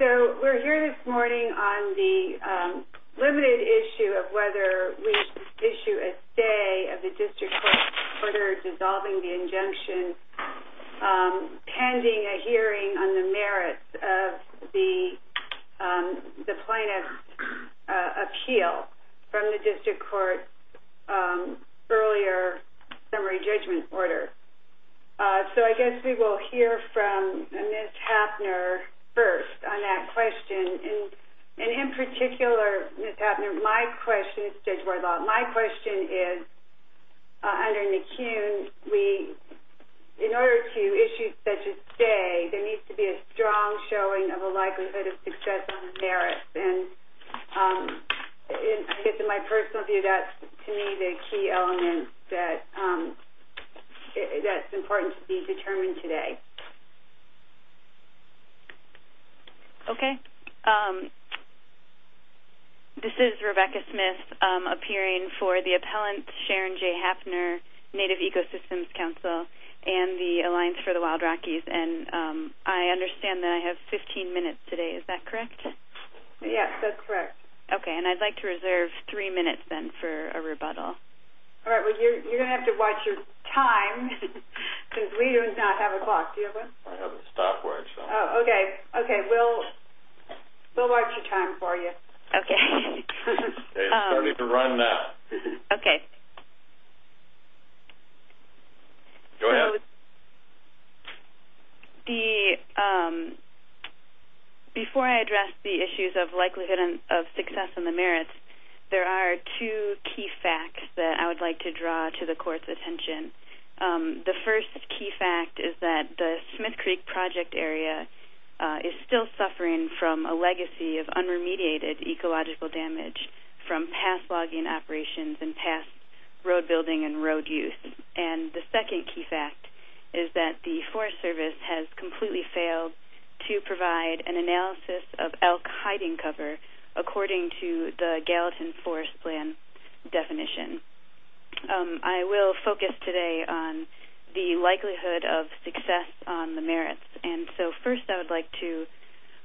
We're here this morning on the limited issue of whether we should issue a stay of the District Court's order dissolving the injunction pending a hearing on the merits of the plaintiff's appeal from the District Court's earlier summary judgment order. So I guess we will hear from Ms. Hapner first on that question. And in particular, Ms. Hapner, my question is under McKeown. In order to issue such a stay, there needs to be a strong showing of a likelihood of success on the merits. And I guess in my personal view, that's to me the key element that's important to be determined today. Okay. This is Rebecca Smith appearing for the appellant Sharon J. Hapner, Native Ecosystems Council and the Alliance for the Wild Rockies. And I understand that I have 15 minutes today, is that correct? Yes, that's correct. Okay. And I'd like to reserve three minutes then for a rebuttal. All right. Well, you're going to have to watch your time because we do not have a clock. Do you have one? I have a stopwatch. Oh, okay. Okay. We'll watch your time for you. Okay. It's starting to run now. Okay. Go ahead. Before I address the issues of likelihood of success on the merits, there are two key facts that I would like to draw to the court's attention. The first key fact is that the Smith Creek Project area is still suffering from a legacy of unremediated ecological damage from past logging operations and past road building and road use. And the second key fact is that the Forest Service has completely failed to provide an analysis of elk hiding cover according to the Gallatin Forest Plan definition. I will focus today on the likelihood of success on the merits. And so first I would like to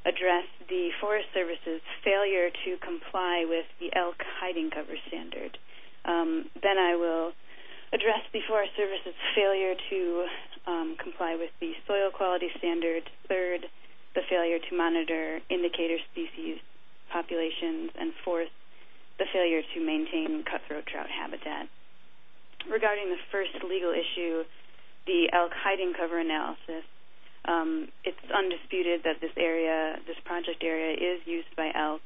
address the Forest Service's failure to comply with the elk hiding cover standard. Then I will address the Forest Service's failure to comply with the soil quality standards. Third, the failure to monitor indicator species populations. And fourth, the failure to maintain cutthroat trout habitat. Regarding the first legal issue, the elk hiding cover analysis, it's undisputed that this area, this project area, is used by elk.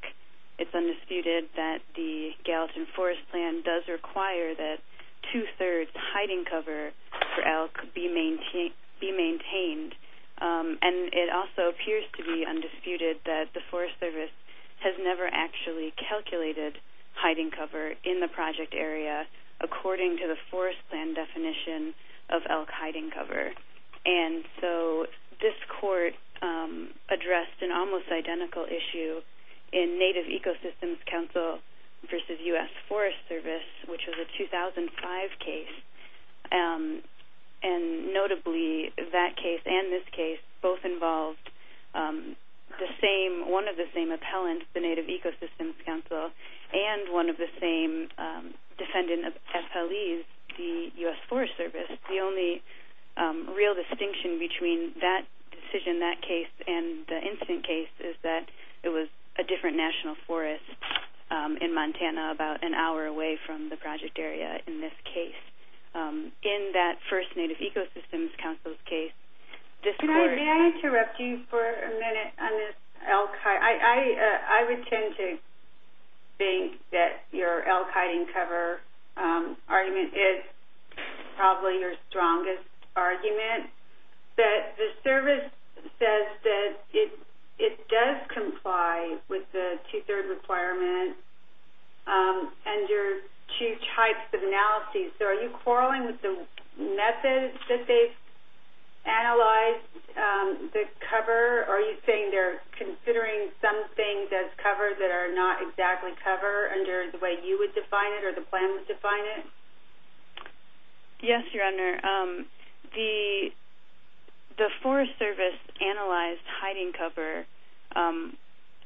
It's undisputed that the Gallatin Forest Plan does require that two-thirds hiding cover for elk be maintained. And it also appears to be undisputed that the Forest Service has never actually calculated hiding cover in the project area according to the Forest Plan definition of elk hiding cover. And so this court addressed an almost identical issue in Native Ecosystems Council versus U.S. Forest Service, which was a 2005 case. And notably, that case and this case both involved one of the same appellants, the Native Ecosystems Council, and one of the same defendant appellees, the U.S. Forest Service. The only real distinction between that decision, that case, and the incident case is that it was a different national forest in Montana about an hour away from the project area in this case. In that first Native Ecosystems Council's case, this court... Can I interrupt you for a minute on this elk hiding... I would tend to think that your elk hiding cover argument is probably your strongest argument. But the service says that it does comply with the two-third requirement under two types of analyses. So are you quarreling with the methods that they've analyzed the cover? Are you saying they're considering some things as cover that are not exactly cover under the way you would define it or the plan would define it? Yes, Your Honor. The Forest Service analyzed hiding cover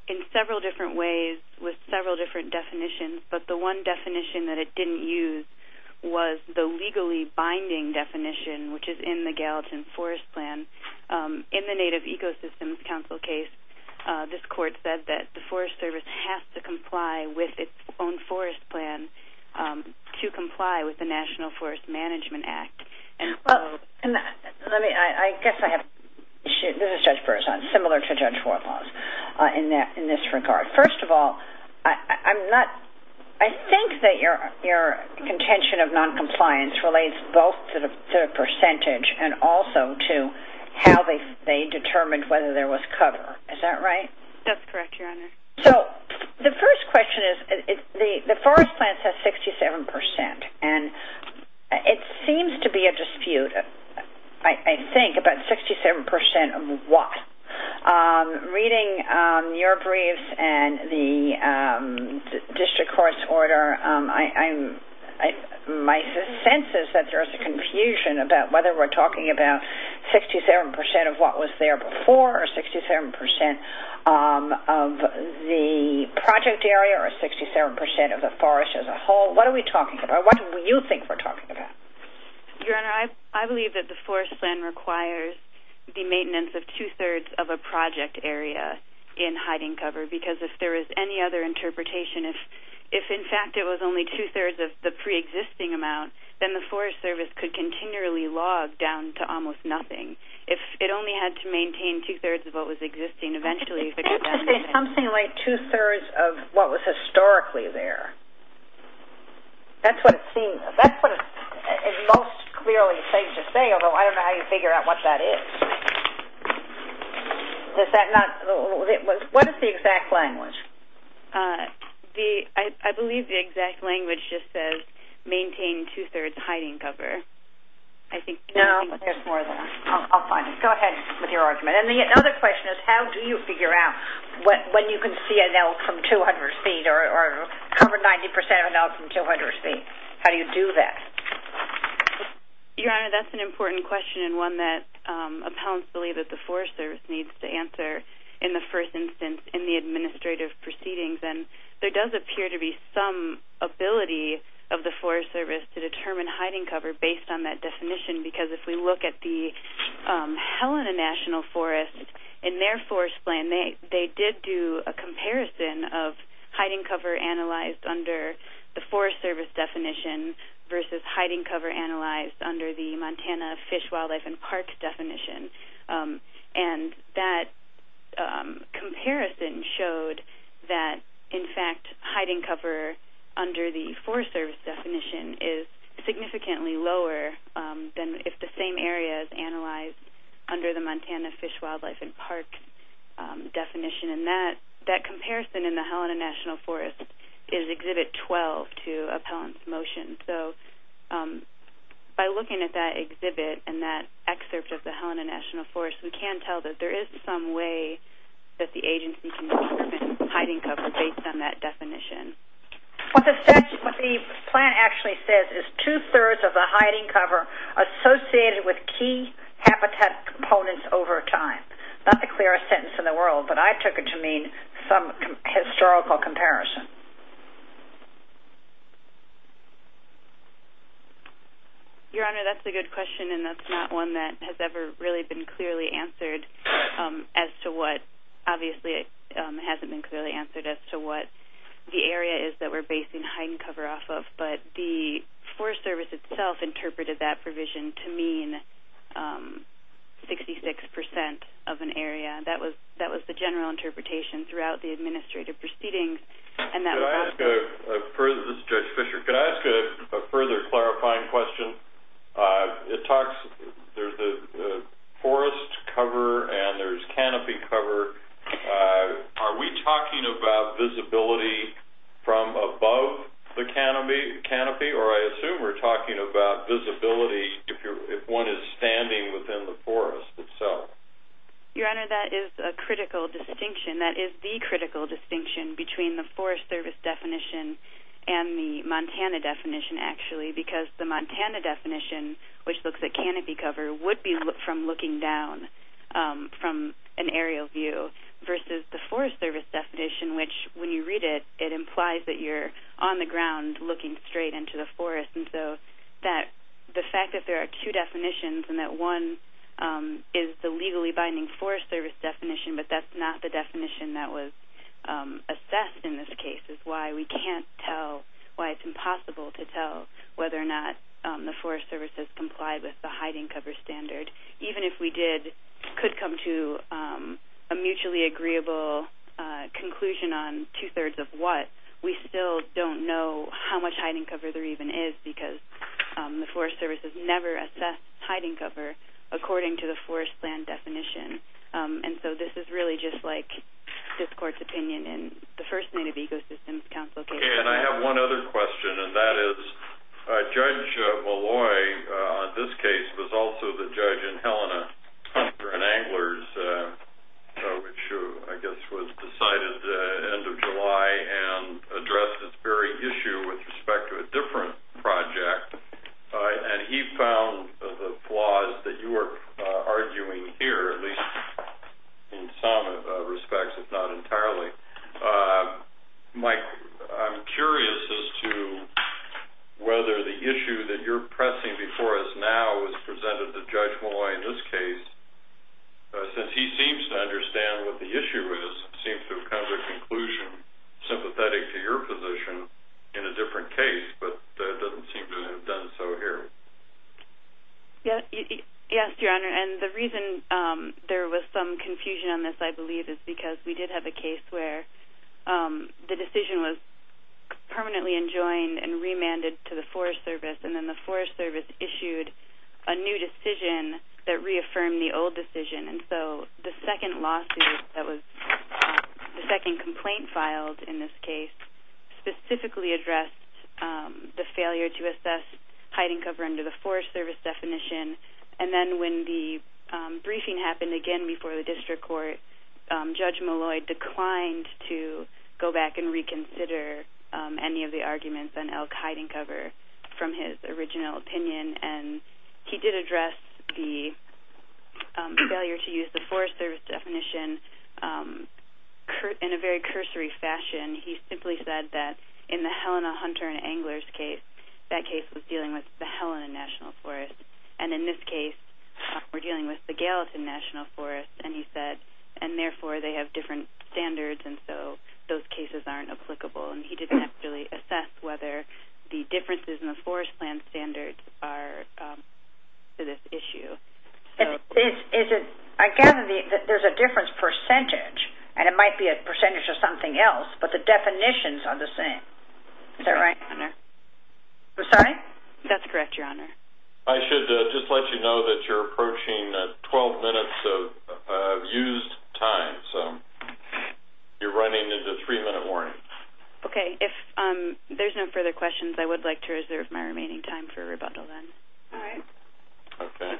in several different ways with several different definitions. But the one definition that it didn't use was the legally binding definition, which is in the Gallatin Forest Plan. In the Native Ecosystems Council case, this court said that the Forest Service has to comply with its own forest plan to comply with the National Forest Management Act. Well, let me... I guess I have... This is Judge Berzon. Similar to Judge Warthoff in this regard. First of all, I'm not... I think that your contention of noncompliance relates both to the percentage and also to how they determined whether there was cover. Is that right? That's correct, Your Honor. So the first question is the forest plan says 67%. And it seems to be a dispute, I think, about 67% of what? Reading your briefs and the district court's order, my sense is that there is a confusion about whether we're talking about 67% of what was there before or 67% of the project area or 67% of the forest as a whole. What are we talking about? What do you think we're talking about? Your Honor, I believe that the forest plan requires the maintenance of two-thirds of a project area in hiding cover because if there is any other interpretation, if in fact it was only two-thirds of the preexisting amount, then the Forest Service could continually log down to almost nothing. If it only had to maintain two-thirds of what was existing eventually... You have to say something like two-thirds of what was historically there. That's what it seems. That's what it most clearly seems to say, although I don't know how you figure out what that is. Does that not... What is the exact language? I believe the exact language just says maintain two-thirds hiding cover. I think... No, there's more than that. I'll find it. Go ahead with your argument. The other question is how do you figure out when you can see an elk from 200 feet or cover 90% of an elk from 200 feet? How do you do that? Your Honor, that's an important question and one that appellants believe that the Forest Service needs to answer in the first instance in the administrative proceedings. There does appear to be some ability of the Forest Service to determine hiding cover based on that definition because if we look at the Helena National Forest, in their forest plan, they did do a comparison of hiding cover analyzed under the Forest Service definition versus hiding cover analyzed under the Montana Fish, Wildlife, and Parks definition. That comparison showed that, in fact, hiding cover under the Forest Service definition is significantly lower than if the same area is analyzed under the Montana Fish, Wildlife, and Parks definition. That comparison in the Helena National Forest is Exhibit 12 to appellant's motion. By looking at that exhibit and that excerpt of the Helena National Forest, we can tell that there is some way that the agency can determine hiding cover based on that definition. What the plan actually says is two-thirds of the hiding cover associated with key habitat components over time. Not the clearest sentence in the world, but I took it to mean some historical comparison. Your Honor, that's a good question and that's not one that has ever really been clearly answered as to what, obviously, it hasn't been clearly answered as to what the area is that we're basing hiding cover off of, but the Forest Service itself interpreted that provision to mean 66% of an area. That was the general interpretation throughout the administrative proceedings. This is Judge Fischer. Could I ask a further clarifying question? It talks, there's a forest cover and there's canopy cover. Are we talking about visibility from above the canopy, or I assume we're talking about visibility if one is standing within the forest itself? Your Honor, that is a critical distinction. That is the critical distinction between the Forest Service definition and the Montana definition, actually, because the Montana definition, which looks at canopy cover, would be from looking down from an aerial view, versus the Forest Service definition, which when you read it, it implies that you're on the ground looking straight into the forest. The fact that there are two definitions and that one is the legally binding Forest Service definition, but that's not the definition that was assessed in this case is why we can't tell, why it's impossible to tell whether or not the Forest Service has complied with the hiding cover standard. Even if we did, could come to a mutually agreeable conclusion on two-thirds of what, we still don't know how much hiding cover there even is, because the Forest Service has never assessed hiding cover according to the forest land definition. This is really just like this court's opinion in the first Native Ecosystems Council case. I have one other question, and that is Judge Malloy on this case was also the judge in Helena Hunter and Angler's, which I guess was decided end of July and addressed this very issue with respect to a different project. He found the flaws that you were arguing here, at least in some respects, if not entirely. Mike, I'm curious as to whether the issue that you're pressing before us now was presented to Judge Malloy in this case, since he seems to understand what the issue is, seems to have come to a conclusion sympathetic to your position in a different case, but doesn't seem to have done so here. Yes, Your Honor, and the reason there was some confusion on this, I believe, is because we did have a case where the decision was permanently enjoined and remanded to the Forest Service, and then the Forest Service issued a new decision that reaffirmed the old decision, and so the second lawsuit that was, the second complaint filed in this case, specifically addressed the failure to assess hiding cover under the Forest Service definition, and then when the briefing happened again before the District Court, Judge Malloy declined to go back and reconsider any of the arguments on elk hiding cover from his original opinion, and he did address the failure to use the Forest Service definition in a very cursory fashion. He simply said that in the Helena Hunter and Angler's case, that case was dealing with the Helena National Forest, and in this case, we're dealing with the Gallatin National Forest, and he said, and therefore they have different standards, and so those cases aren't applicable, and he didn't actually assess whether the differences in the forest plan standards are to this issue. Is it, I gather there's a difference percentage, and it might be a percentage of something else, but the definitions are the same, is that right? Your Honor. I'm sorry? That's correct, Your Honor. I should just let you know that you're approaching 12 minutes of used time, so you're running into a three-minute warning. Okay. If there's no further questions, I would like to reserve my remaining time for rebundal then. All right. Okay.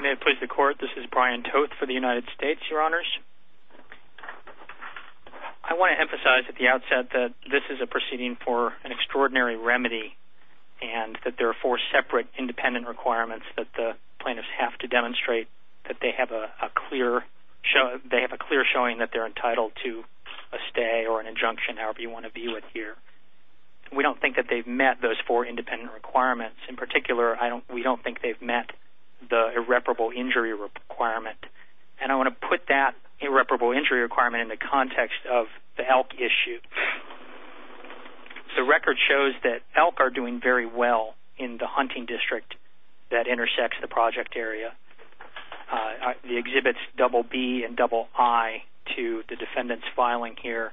May it please the Court, this is Brian Toth for the United States, Your Honors. I want to emphasize at the outset that this is a proceeding for an extraordinary remedy and that there are four separate independent requirements that the plaintiffs have to demonstrate that they have a clear showing that they're entitled to a stay or an injunction, however you want to view it here. We don't think that they've met those four independent requirements. In particular, we don't think they've met the irreparable injury requirement, and I want to put that irreparable injury requirement in the context of the elk issue. The record shows that elk are doing very well in the hunting district that intersects the project area. The exhibits BB and II to the defendant's filing here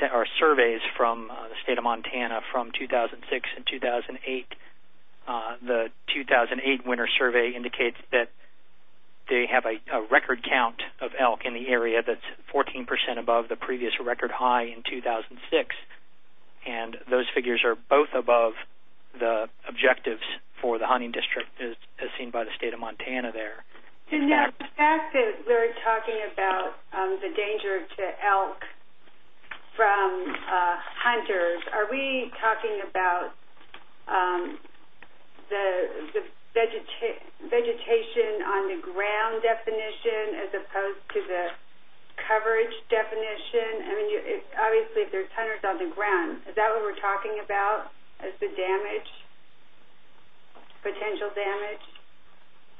are surveys from the State of Montana from 2006 and 2008. The 2008 winter survey indicates that they have a record count of elk in the area that's 14% above the previous record high in 2006, and those figures are both above the objectives for the hunting district as seen by the State of Montana there. The fact that we're talking about the danger to elk from hunters, are we talking about the vegetation on the ground definition as opposed to the coverage definition? I mean, obviously if there's hunters on the ground, is that what we're talking about as the damage, potential damage?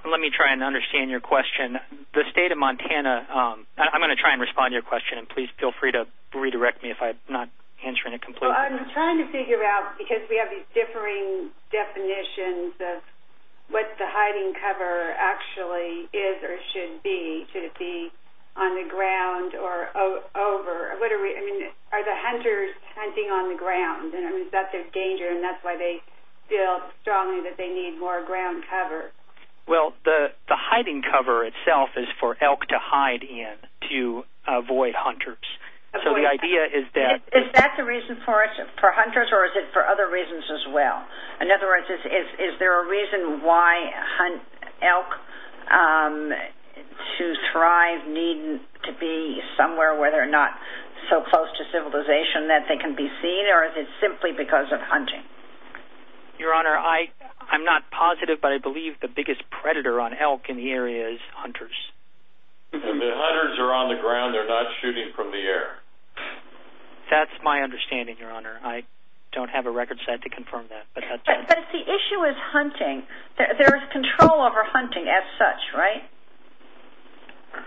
Let me try and understand your question. The State of Montana, I'm going to try and respond to your question, and please feel free to redirect me if I'm not answering it completely. Well, I'm trying to figure out, because we have these differing definitions of what the hiding cover actually is or should be. Should it be on the ground or over? I mean, are the hunters hunting on the ground? I mean, is that their danger, and that's why they feel strongly that they need more ground cover? Well, the hiding cover itself is for elk to hide in to avoid hunters. So the idea is that- Is that the reason for it, for hunters, or is it for other reasons as well? In other words, is there a reason why elk to thrive need to be somewhere where they're not so close to civilization that they can be seen, or is it simply because of hunting? Your Honor, I'm not positive, but I believe the biggest predator on elk in the area is hunters. The hunters are on the ground. They're not shooting from the air. That's my understanding, Your Honor. I don't have a record set to confirm that. But the issue is hunting. There is control over hunting as such, right?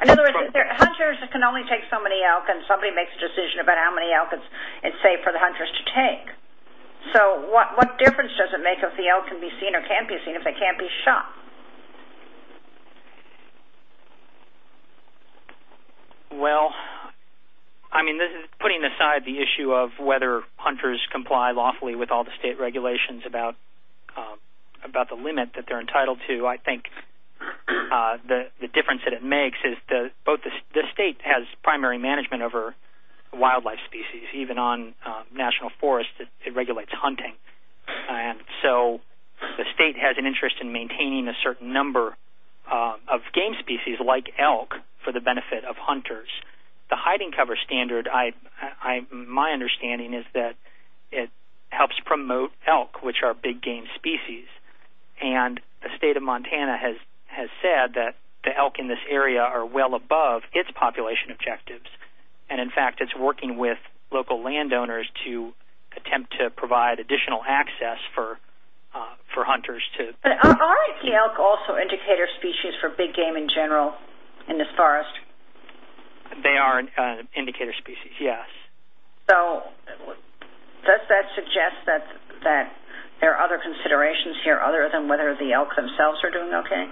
In other words, hunters can only take so many elk, and somebody makes a decision about how many elk it's safe for the hunters to take. So what difference does it make if the elk can be seen or can't be seen if they can't be shot? Well, I mean, putting aside the issue of whether hunters comply lawfully with all the state regulations about the limit that they're entitled to, I think the difference that it makes is the state has primary management over wildlife species. Even on national forests, it regulates hunting. And so the state has an interest in maintaining a certain number of game species like elk for the benefit of hunters. The hiding cover standard, my understanding is that it helps promote elk, which are big game species. And the state of Montana has said that the elk in this area are well above its population objectives. And, in fact, it's working with local landowners to attempt to provide additional access for hunters to... But aren't the elk also indicator species for big game in general in this forest? They are indicator species, yes. So does that suggest that there are other considerations here other than whether the elk themselves are doing okay?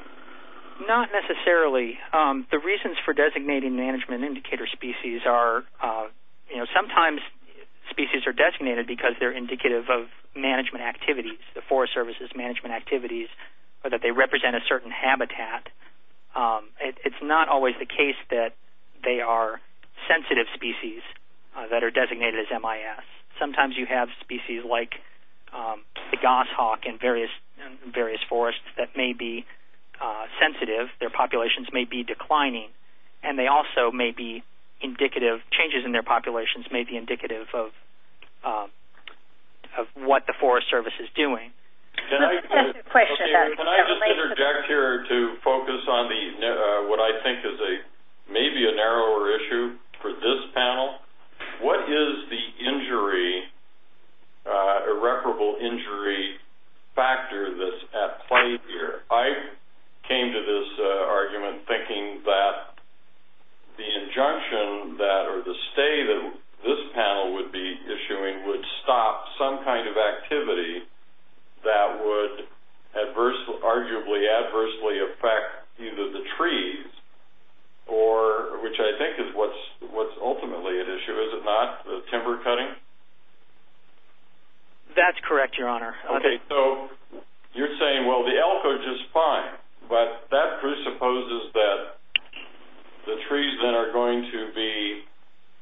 Not necessarily. The reasons for designating management indicator species are, you know, sometimes species are designated because they're indicative of management activities, the Forest Service's management activities, or that they represent a certain habitat. It's not always the case that they are sensitive species that are designated as MIS. Sometimes you have species like the goshawk in various forests that may be sensitive. Their populations may be declining. And they also may be indicative, changes in their populations may be indicative of what the Forest Service is doing. Can I just interject here to focus on what I think is maybe a narrower issue for this panel? What is the irreparable injury factor that's at play here? I came to this argument thinking that the injunction or the stay that this panel would be issuing would stop some kind of activity that would arguably adversely affect either the trees, which I think is what's ultimately at issue, is it not, the timber cutting? That's correct, Your Honor. Okay, so you're saying, well, the elk are just fine, but that presupposes that the trees then are going to be,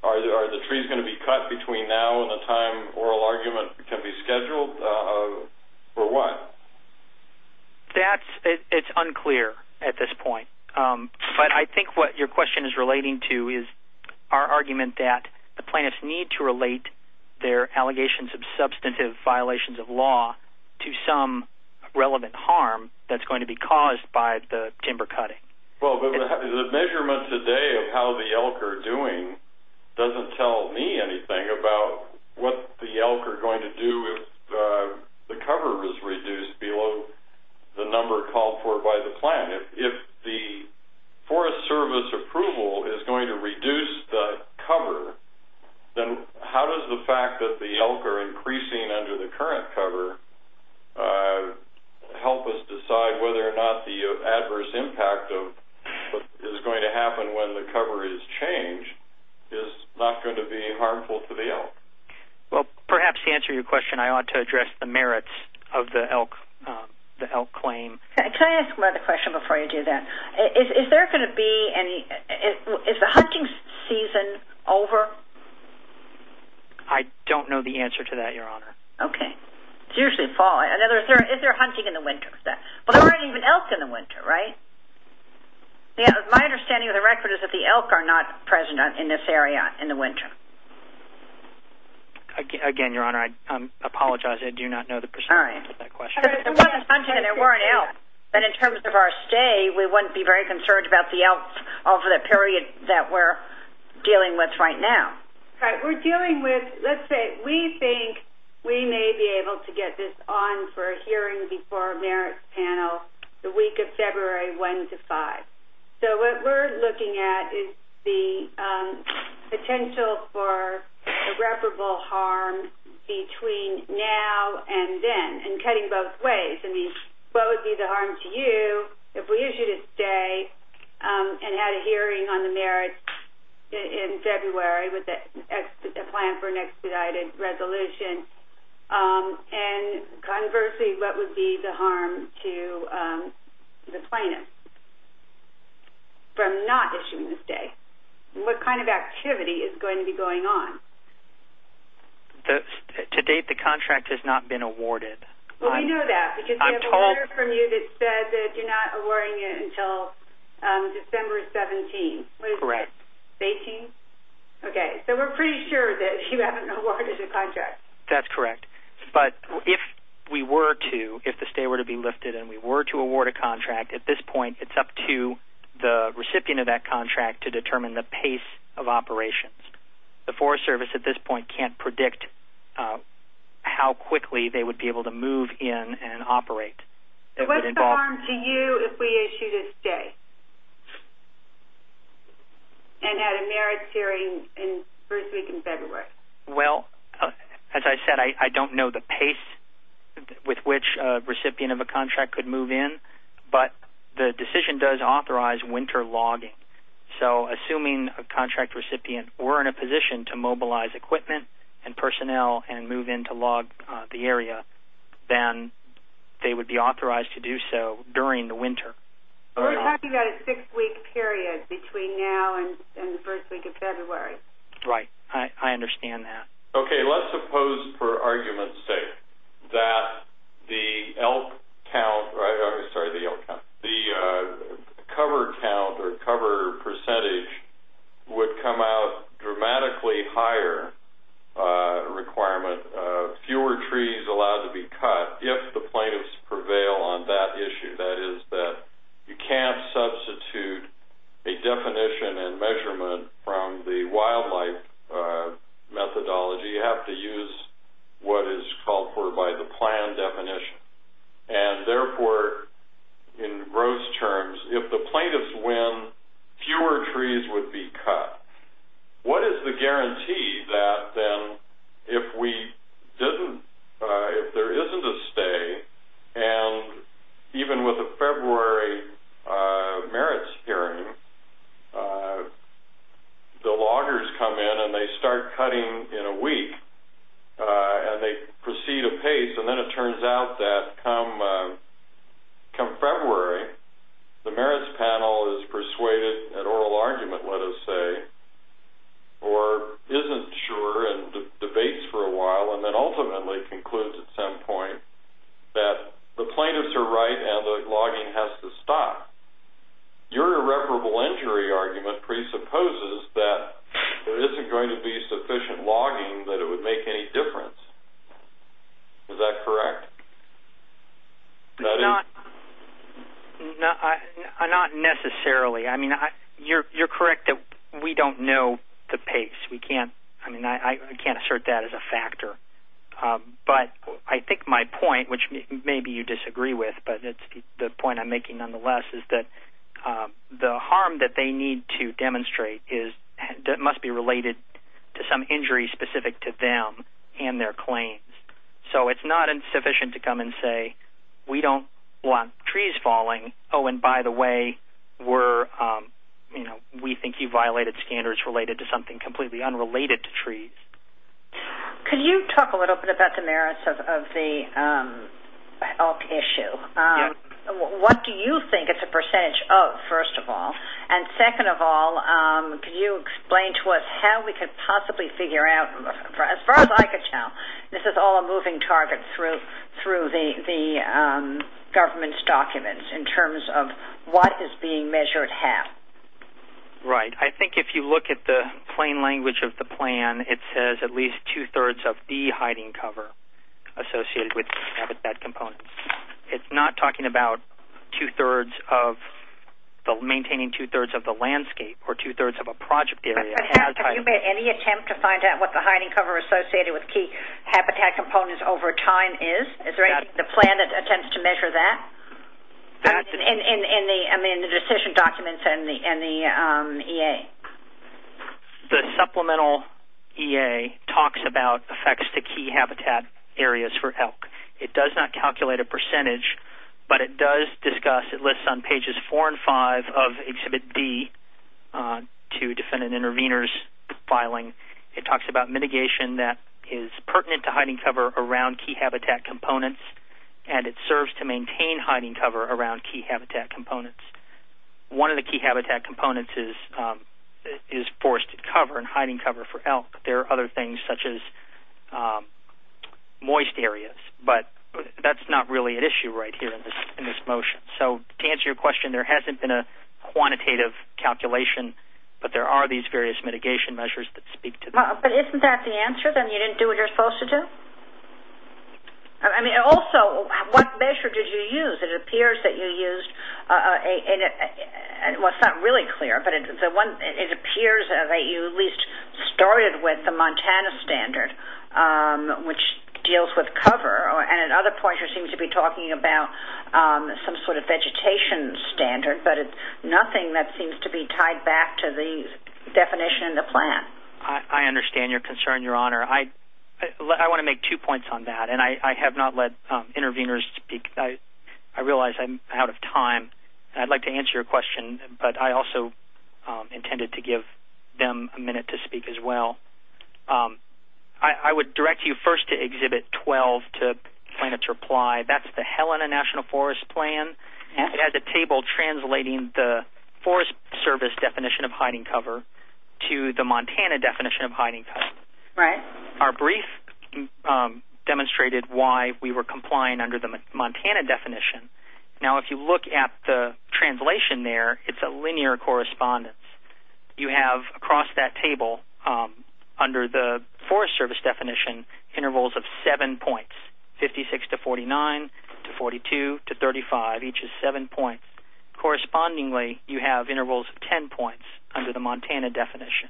are the trees going to be cut between now and the time oral argument can be scheduled, or what? That's, it's unclear at this point, but I think what your question is relating to is our argument that the plaintiffs need to relate their allegations of substantive violations of law to some relevant harm that's going to be caused by the timber cutting. Well, the measurement today of how the elk are doing doesn't tell me anything about what the elk are going to do if the cover is reduced below the number called for by the plan. If the Forest Service approval is going to reduce the cover, then how does the fact that the elk are increasing under the current cover help us decide whether or not the adverse impact of what is going to happen when the cover is changed is not going to be harmful to the elk? Well, perhaps to answer your question, I ought to address the merits of the elk claim. Can I ask one other question before you do that? Is there going to be any, is the hunting season over? I don't know the answer to that, Your Honor. Okay. It's usually fall. In other words, if they're hunting in the winter, but there aren't even elk in the winter, right? My understanding of the record is that the elk are not present in this area in the winter. Again, Your Honor, I apologize. I do not know the percentage of that question. If there wasn't hunting and there weren't elk, then in terms of our stay, we wouldn't be very concerned about the elk over the period that we're dealing with right now. Right. We're dealing with, let's say we think we may be able to get this on for a hearing before our merits panel the week of February 1 to 5. So what we're looking at is the potential for irreparable harm between now and then and cutting both ways. I mean, what would be the harm to you if we issued a stay and had a hearing on the merits in February with a plan for an expedited resolution? And conversely, what would be the harm to the plaintiff from not issuing the stay? What kind of activity is going to be going on? To date, the contract has not been awarded. Well, we know that because we have a letter from you that said that you're not awarding it until December 17. Correct. What is that, 18? Okay. So we're pretty sure that you haven't awarded a contract. That's correct. But if we were to, if the stay were to be lifted and we were to award a contract, at this point it's up to the recipient of that contract to determine the pace of operations. The Forest Service at this point can't predict how quickly they would be able to move in and operate. So what's the harm to you if we issued a stay and had a merits hearing in first week in February? Well, as I said, I don't know the pace with which a recipient of a contract could move in, but the decision does authorize winter logging. Okay. So assuming a contract recipient were in a position to mobilize equipment and personnel and move in to log the area, then they would be authorized to do so during the winter. We're talking about a six-week period between now and the first week of February. Right. I understand that. Okay. Let's suppose, for argument's sake, that the elk count, sorry, the elk count, the cover count or cover percentage would come out dramatically higher requirement, fewer trees allowed to be cut if the plaintiffs prevail on that issue. That is that you can't substitute a definition and measurement from the wildlife methodology. You have to use what is called for by the plan definition. And, therefore, in gross terms, if the plaintiffs win, fewer trees would be cut. What is the guarantee that then if we didn't, if there isn't a stay, and even with a February merits hearing, the loggers come in and they start cutting in a week and they proceed apace. And then it turns out that come February, the merits panel is persuaded, an oral argument let us say, or isn't sure and debates for a while and then ultimately concludes at some point that the plaintiffs are right and the logging has to stop. Your irreparable injury argument presupposes that there isn't going to be sufficient logging that it would make any difference. Is that correct? Not necessarily. I can't assert that as a factor. But I think my point, which maybe you disagree with, but the point I'm making nonetheless is that the harm that they need to demonstrate must be related to some injury specific to them and their claims. So it's not insufficient to come and say, we don't want trees falling. Oh, and by the way, we think you violated standards related to something completely unrelated to trees. Could you talk a little bit about the merits of the elk issue? Yes. What do you think it's a percentage of, first of all? And second of all, could you explain to us how we could possibly figure out, as far as I could tell, this is all a moving target through the government's documents in terms of what is being measured how? Right. I think if you look at the plain language of the plan, it says at least two-thirds of the hiding cover associated with habitat components. It's not talking about maintaining two-thirds of the landscape or two-thirds of a project area. But have you made any attempt to find out what the hiding cover associated with key habitat components over time is? Is there a plan that attempts to measure that in the decision documents and the EA? The supplemental EA talks about effects to key habitat areas for elk. It does not calculate a percentage, but it does discuss, it lists on pages four and five of Exhibit D to defendant intervenors filing. It talks about mitigation that is pertinent to hiding cover around key habitat components, and it serves to maintain hiding cover around key habitat components. One of the key habitat components is forested cover and hiding cover for elk. There are other things, such as moist areas, but that's not really at issue right here in this motion. So to answer your question, there hasn't been a quantitative calculation, But isn't that the answer, that you didn't do what you're supposed to do? I mean, also, what measure did you use? It appears that you used, well, it's not really clear, but it appears that you at least started with the Montana standard, which deals with cover. And at other points you seem to be talking about some sort of vegetation standard, but it's nothing that seems to be tied back to the definition in the plan. I understand your concern, Your Honor. I want to make two points on that, and I have not let intervenors speak. I realize I'm out of time, and I'd like to answer your question, but I also intended to give them a minute to speak as well. I would direct you first to Exhibit 12, to plaintiff's reply. That's the Helena National Forest Plan. It has a table translating the Forest Service definition of hiding cover to the Montana definition of hiding cover. Our brief demonstrated why we were complying under the Montana definition. Now, if you look at the translation there, it's a linear correspondence. You have, across that table, under the Forest Service definition, intervals of seven points, 56 to 49, to 42, to 35. Each is seven points. Correspondingly, you have intervals of ten points under the Montana definition.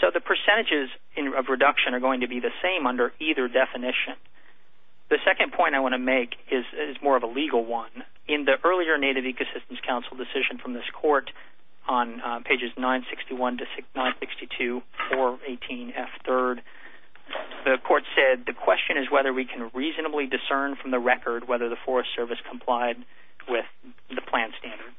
So the percentages of reduction are going to be the same under either definition. The second point I want to make is more of a legal one. In the earlier Native Ecosystems Council decision from this court, on pages 961 to 962, 418F3rd, the court said, the question is whether we can reasonably discern from the record whether the Forest Service complied with the plan standard.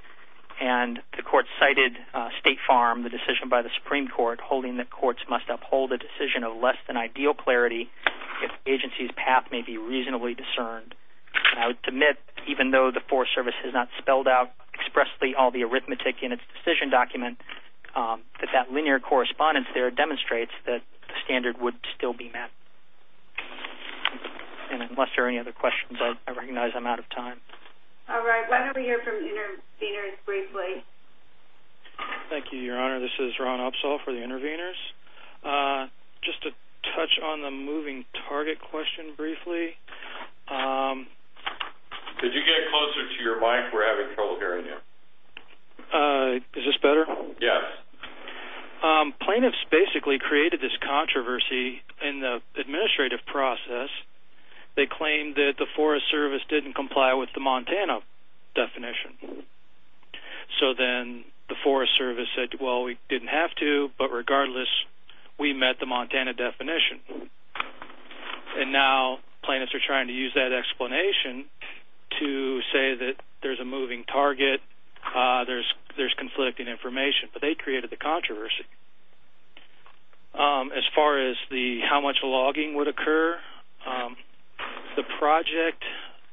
And the court cited State Farm, the decision by the Supreme Court, holding that courts must uphold a decision of less than ideal clarity if agency's path may be reasonably discerned. I would admit, even though the Forest Service has not spelled out expressly all the arithmetic in its decision document, that that linear correspondence there demonstrates that the standard would still be met. And unless there are any other questions, I recognize I'm out of time. All right, why don't we hear from the interveners briefly. Thank you, Your Honor. This is Ron Upsall for the interveners. Just to touch on the moving target question briefly. Did you get closer to your mic? We're having trouble hearing you. Is this better? Yes. Plaintiffs basically created this controversy in the administrative process. They claimed that the Forest Service didn't comply with the Montana definition. So then the Forest Service said, well, we didn't have to, but regardless, we met the Montana definition. And now plaintiffs are trying to use that explanation to say that there's a moving target, there's conflicting information, but they created the controversy. As far as how much logging would occur, the project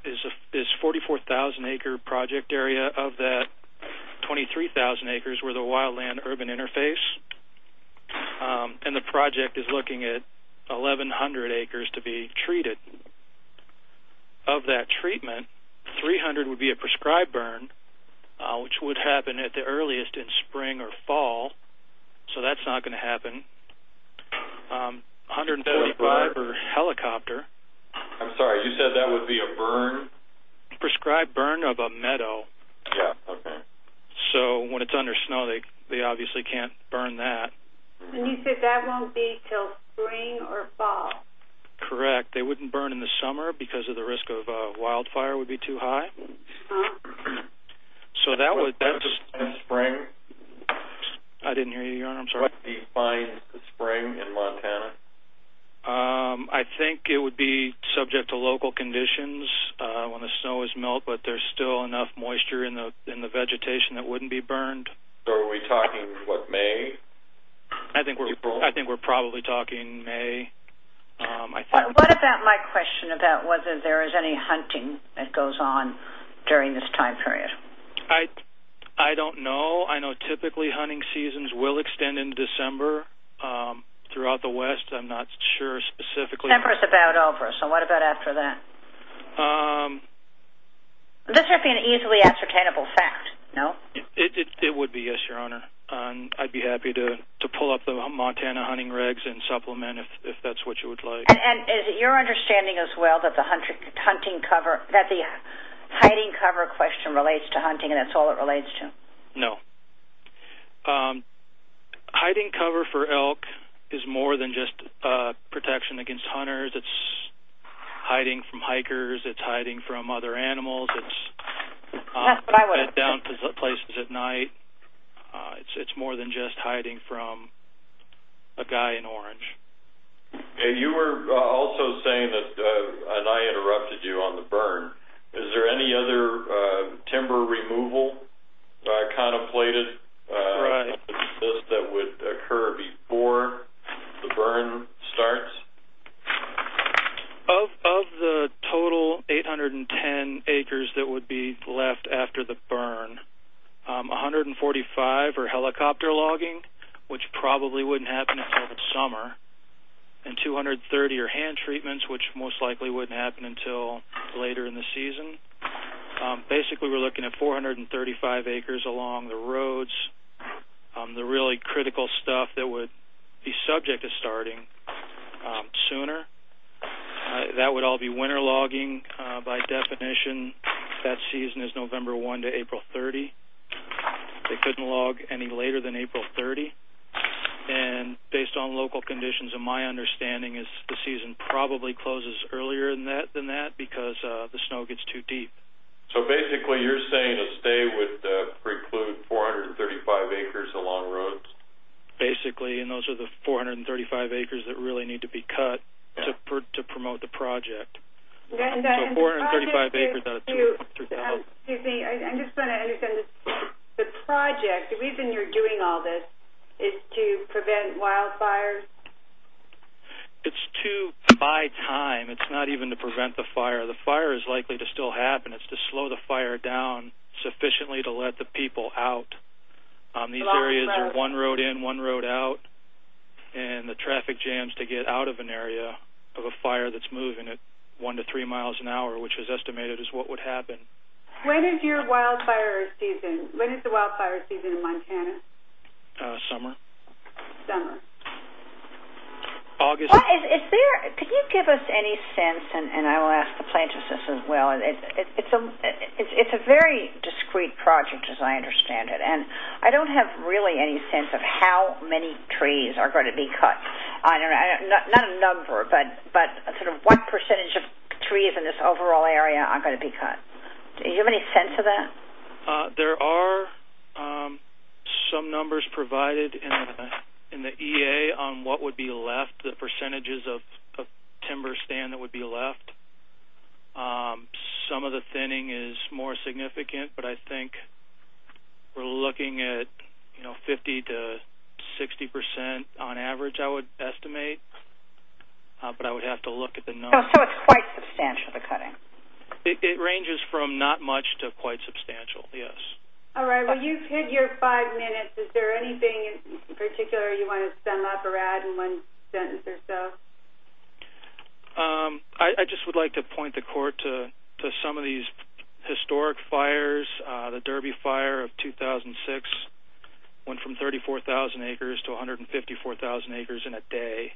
is 44,000-acre project area of that 23,000 acres where the wildland-urban interface. And the project is looking at 1,100 acres to be treated. Of that treatment, 300 would be a prescribed burn, which would happen at the earliest in spring or fall. So that's not going to happen. 145 for helicopter. I'm sorry, you said that would be a burn? Prescribed burn of a meadow. Yeah, okay. So when it's under snow, they obviously can't burn that. And you said that won't be until spring or fall. Correct. They wouldn't burn in the summer because of the risk of wildfire would be too high. So that would— What defines spring? I didn't hear you, Your Honor. I'm sorry. What defines spring in Montana? I think it would be subject to local conditions when the snow is melt, but there's still enough moisture in the vegetation that wouldn't be burned. So are we talking, what, May? I think we're probably talking May. What about my question about whether there is any hunting that goes on during this time period? I don't know. I know typically hunting seasons will extend into December throughout the West. I'm not sure specifically— So what about after that? This would be an easily ascertainable fact, no? It would be, yes, Your Honor. I'd be happy to pull up the Montana hunting regs and supplement if that's what you would like. And is it your understanding as well that the hunting cover— that the hiding cover question relates to hunting and that's all it relates to? No. Hiding cover for elk is more than just protection against hunters. It's hiding from hikers. It's hiding from other animals. It's down to places at night. It's more than just hiding from a guy in orange. You were also saying that—and I interrupted you on the burn— is there any other timber removal contemplated that would occur before the burn starts? Of the total 810 acres that would be left after the burn, 145 are helicopter logging, which probably wouldn't happen until the summer, and 230 are hand treatments, which most likely wouldn't happen until later in the season. Basically, we're looking at 435 acres along the roads, the really critical stuff that would be subject to starting sooner. That would all be winter logging. By definition, that season is November 1 to April 30. They couldn't log any later than April 30. Based on local conditions, my understanding is the season probably closes earlier than that because the snow gets too deep. Basically, you're saying a stay would preclude 435 acres along roads? Basically, and those are the 435 acres that really need to be cut to promote the project. So 435 acres out of 2,000. I'm just trying to understand the project. The reason you're doing all this is to prevent wildfires? It's to buy time. It's not even to prevent the fire. The fire is likely to still happen. It's to slow the fire down sufficiently to let the people out. These areas are one road in, one road out, and the traffic jams to get out of an area of a fire that's moving at 1 to 3 miles an hour, which is estimated as what would happen. When is your wildfire season? When is the wildfire season in Montana? Summer. Summer. Can you give us any sense, and I will ask the plaintiffs this as well, it's a very discreet project as I understand it, and I don't have really any sense of how many trees are going to be cut. Not a number, but sort of what percentage of trees in this overall area are going to be cut? Do you have any sense of that? There are some numbers provided in the EA on what would be left, the percentages of timber stand that would be left. Some of the thinning is more significant, but I think we're looking at 50 to 60 percent on average I would estimate, but I would have to look at the numbers. So it's quite substantial, the cutting? It ranges from not much to quite substantial, yes. All right. Well, you've hit your five minutes. Is there anything in particular you want to sum up or add in one sentence or so? I just would like to point the court to some of these historic fires. The Derby Fire of 2006 went from 34,000 acres to 154,000 acres in a day.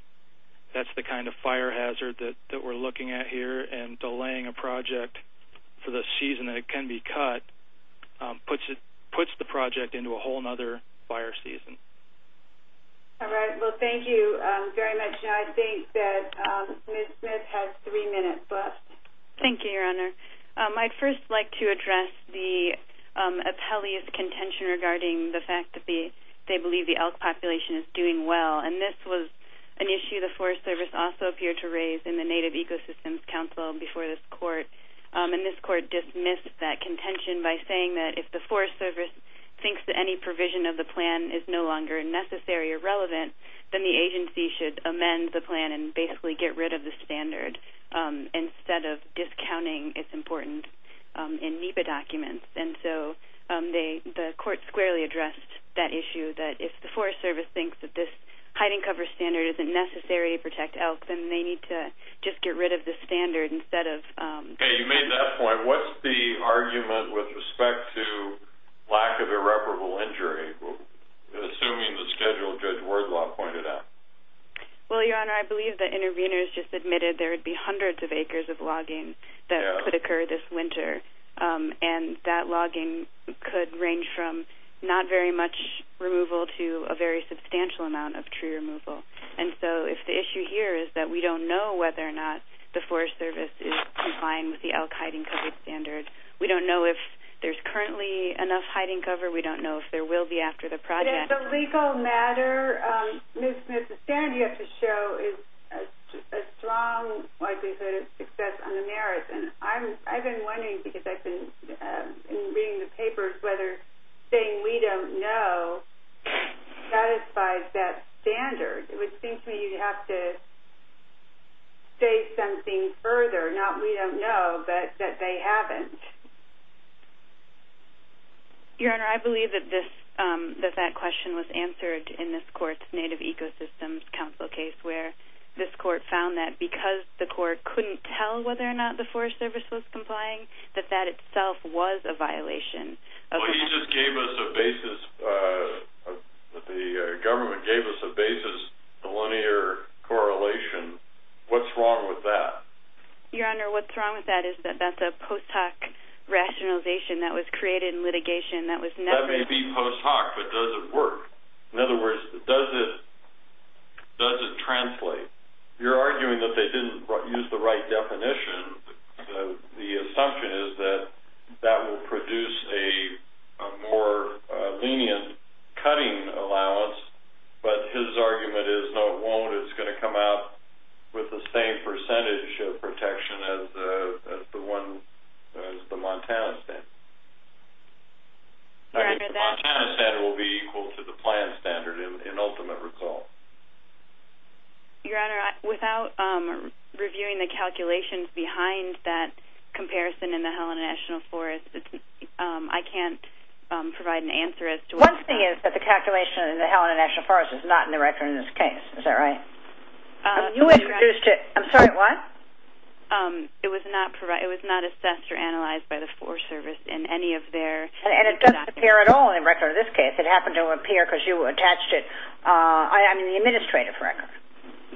That's the kind of fire hazard that we're looking at here, and delaying a project for the season that it can be cut puts the project into a whole other fire season. All right. Well, thank you very much. I think that Ms. Smith has three minutes left. Thank you, Your Honor. I'd first like to address the appellee's contention regarding the fact that they believe the elk population is doing well, and this was an issue the Forest Service also appeared to raise in the Native Ecosystems Council before this court, and this court dismissed that contention by saying that if the Forest Service thinks that any provision of the plan is no longer necessary or relevant, then the agency should amend the plan and basically get rid of the standard, instead of discounting its importance in NEPA documents. And so the court squarely addressed that issue, that if the Forest Service thinks that this hiding cover standard isn't necessary to protect elk, then they need to just get rid of the standard instead of... Okay. You made that point. What's the argument with respect to lack of irreparable injury, assuming the schedule Judge Wordlaw pointed out? Well, Your Honor, I believe that interveners just admitted there would be hundreds of acres of logging that could occur this winter, and that logging could range from not very much removal to a very substantial amount of tree removal. And so if the issue here is that we don't know whether or not the Forest Service is in line with the elk hiding cover standard, we don't know if there's currently enough hiding cover, we don't know if there will be after the project. But as a legal matter, Ms. Smith, the standard you have to show is a strong likelihood of success on the merits. And I've been wondering, because I've been reading the papers, whether saying we don't know satisfies that standard. It would seem to me you'd have to say something further, not we don't know, but that they haven't. Your Honor, I believe that that question was answered in this court's Native Ecosystems Council case, where this court found that because the court couldn't tell whether or not the Forest Service was complying, that that itself was a violation. Well, he just gave us a basis, the government gave us a basis for linear correlation. What's wrong with that? Your Honor, what's wrong with that is that that's a post hoc rationalization that was created in litigation that was never- That may be post hoc, but does it work? In other words, does it translate? You're arguing that they didn't use the right definition. The assumption is that that will produce a more lenient cutting allowance, but his argument is no, it won't. It's going to come out with the same percentage of protection as the Montana standard. Your Honor, that's- The Montana standard will be equal to the plan standard in ultimate result. Your Honor, without reviewing the calculations behind that comparison in the Helena National Forest, I can't provide an answer as to what- One thing is that the calculation in the Helena National Forest is not in the record in this case. Is that right? I'm sorry, what? It was not assessed or analyzed by the Forest Service in any of their- And it doesn't appear at all in the record in this case. It happened to appear because you attached it. I mean, the administrative record.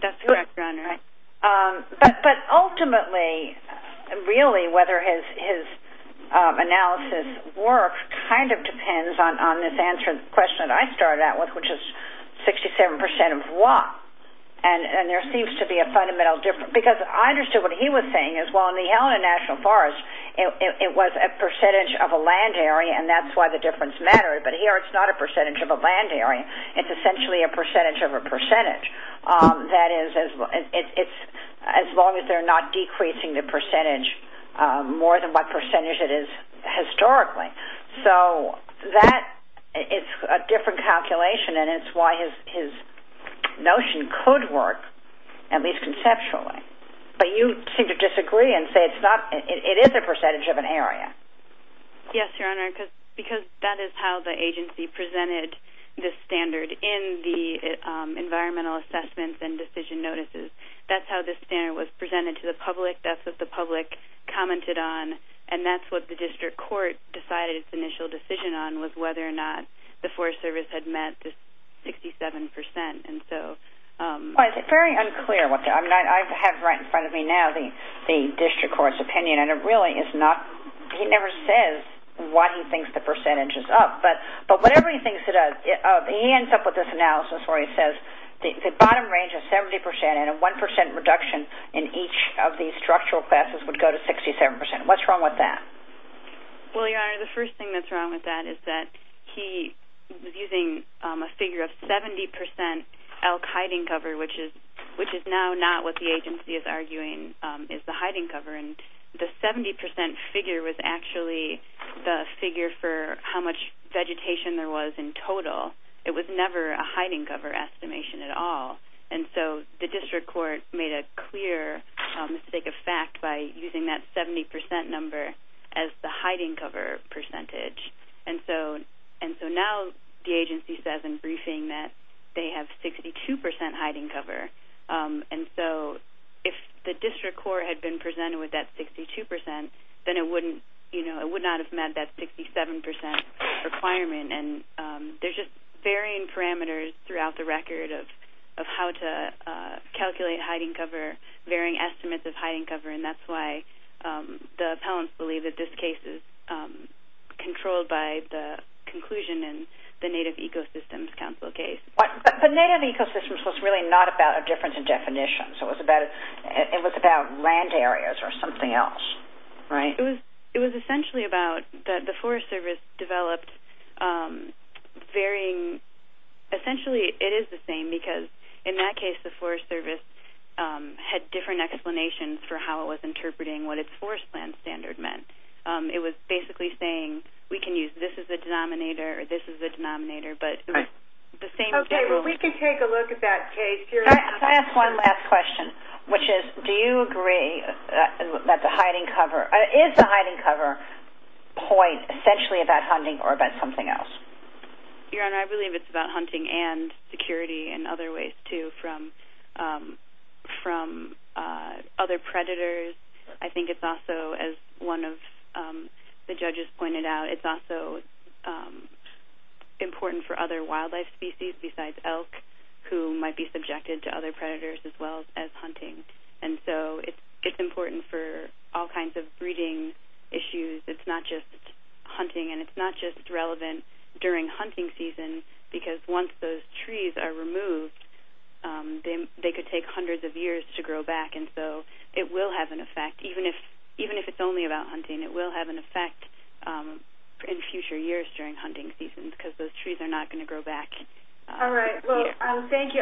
That's correct, Your Honor. But ultimately, really, whether his analysis works kind of depends on this answer, the question that I started out with, which is 67% of what? And there seems to be a fundamental difference. Because I understood what he was saying as well. In the Helena National Forest, it was a percentage of a land area, and that's why the difference mattered. But here, it's not a percentage of a land area. It's essentially a percentage of a percentage. That is, as long as they're not decreasing the percentage more than what percentage it is historically. So that is a different calculation, and it's why his notion could work, at least conceptually. But you seem to disagree and say it is a percentage of an area. Yes, Your Honor, because that is how the agency presented this standard in the environmental assessments and decision notices. That's how this standard was presented to the public. That's what the public commented on. And that's what the district court decided its initial decision on was whether or not the Forest Service had met this 67%. Well, it's very unclear what the- I mean, I have right in front of me now the district court's opinion, and it really is not-he never says what he thinks the percentage is up. But whatever he thinks it is, he ends up with this analysis where he says the bottom range is 70%, and a 1% reduction in each of these structural classes would go to 67%. What's wrong with that? Well, Your Honor, the first thing that's wrong with that is that he was using a figure of 70% elk hiding cover, which is now not what the agency is arguing is the hiding cover. And the 70% figure was actually the figure for how much vegetation there was in total. It was never a hiding cover estimation at all. And so the district court made a clear mistake of fact by using that 70% number as the hiding cover percentage. And so now the agency says in briefing that they have 62% hiding cover. And so if the district court had been presented with that 62%, then it would not have met that 67% requirement. And there's just varying parameters throughout the record of how to calculate hiding cover, varying estimates of hiding cover, and that's why the appellants believe that this case is controlled by the conclusion in the Native Ecosystems Council case. But Native Ecosystems was really not about a difference in definitions. It was about land areas or something else. Right. It was essentially about the Forest Service developed varying – essentially it is the same because in that case the Forest Service had different explanations for how it was interpreting what its forest plan standard meant. It was basically saying we can use this as the denominator or this as the denominator, but it was the same as the rule. Okay. Well, we can take a look at that case here. Can I ask one last question, which is do you agree that the hiding cover – is the hiding cover point essentially about hunting or about something else? Your Honor, I believe it's about hunting and security and other ways, too, from other predators. I think it's also, as one of the judges pointed out, it's also important for other wildlife species besides elk, who might be subjected to other predators as well as hunting. And so it's important for all kinds of breeding issues. It's not just hunting, and it's not just relevant during hunting season because once those trees are removed, they could take hundreds of years to grow back. And so it will have an effect. Even if it's only about hunting, it will have an effect in future years during hunting season because those trees are not going to grow back. All right. Well, thank you.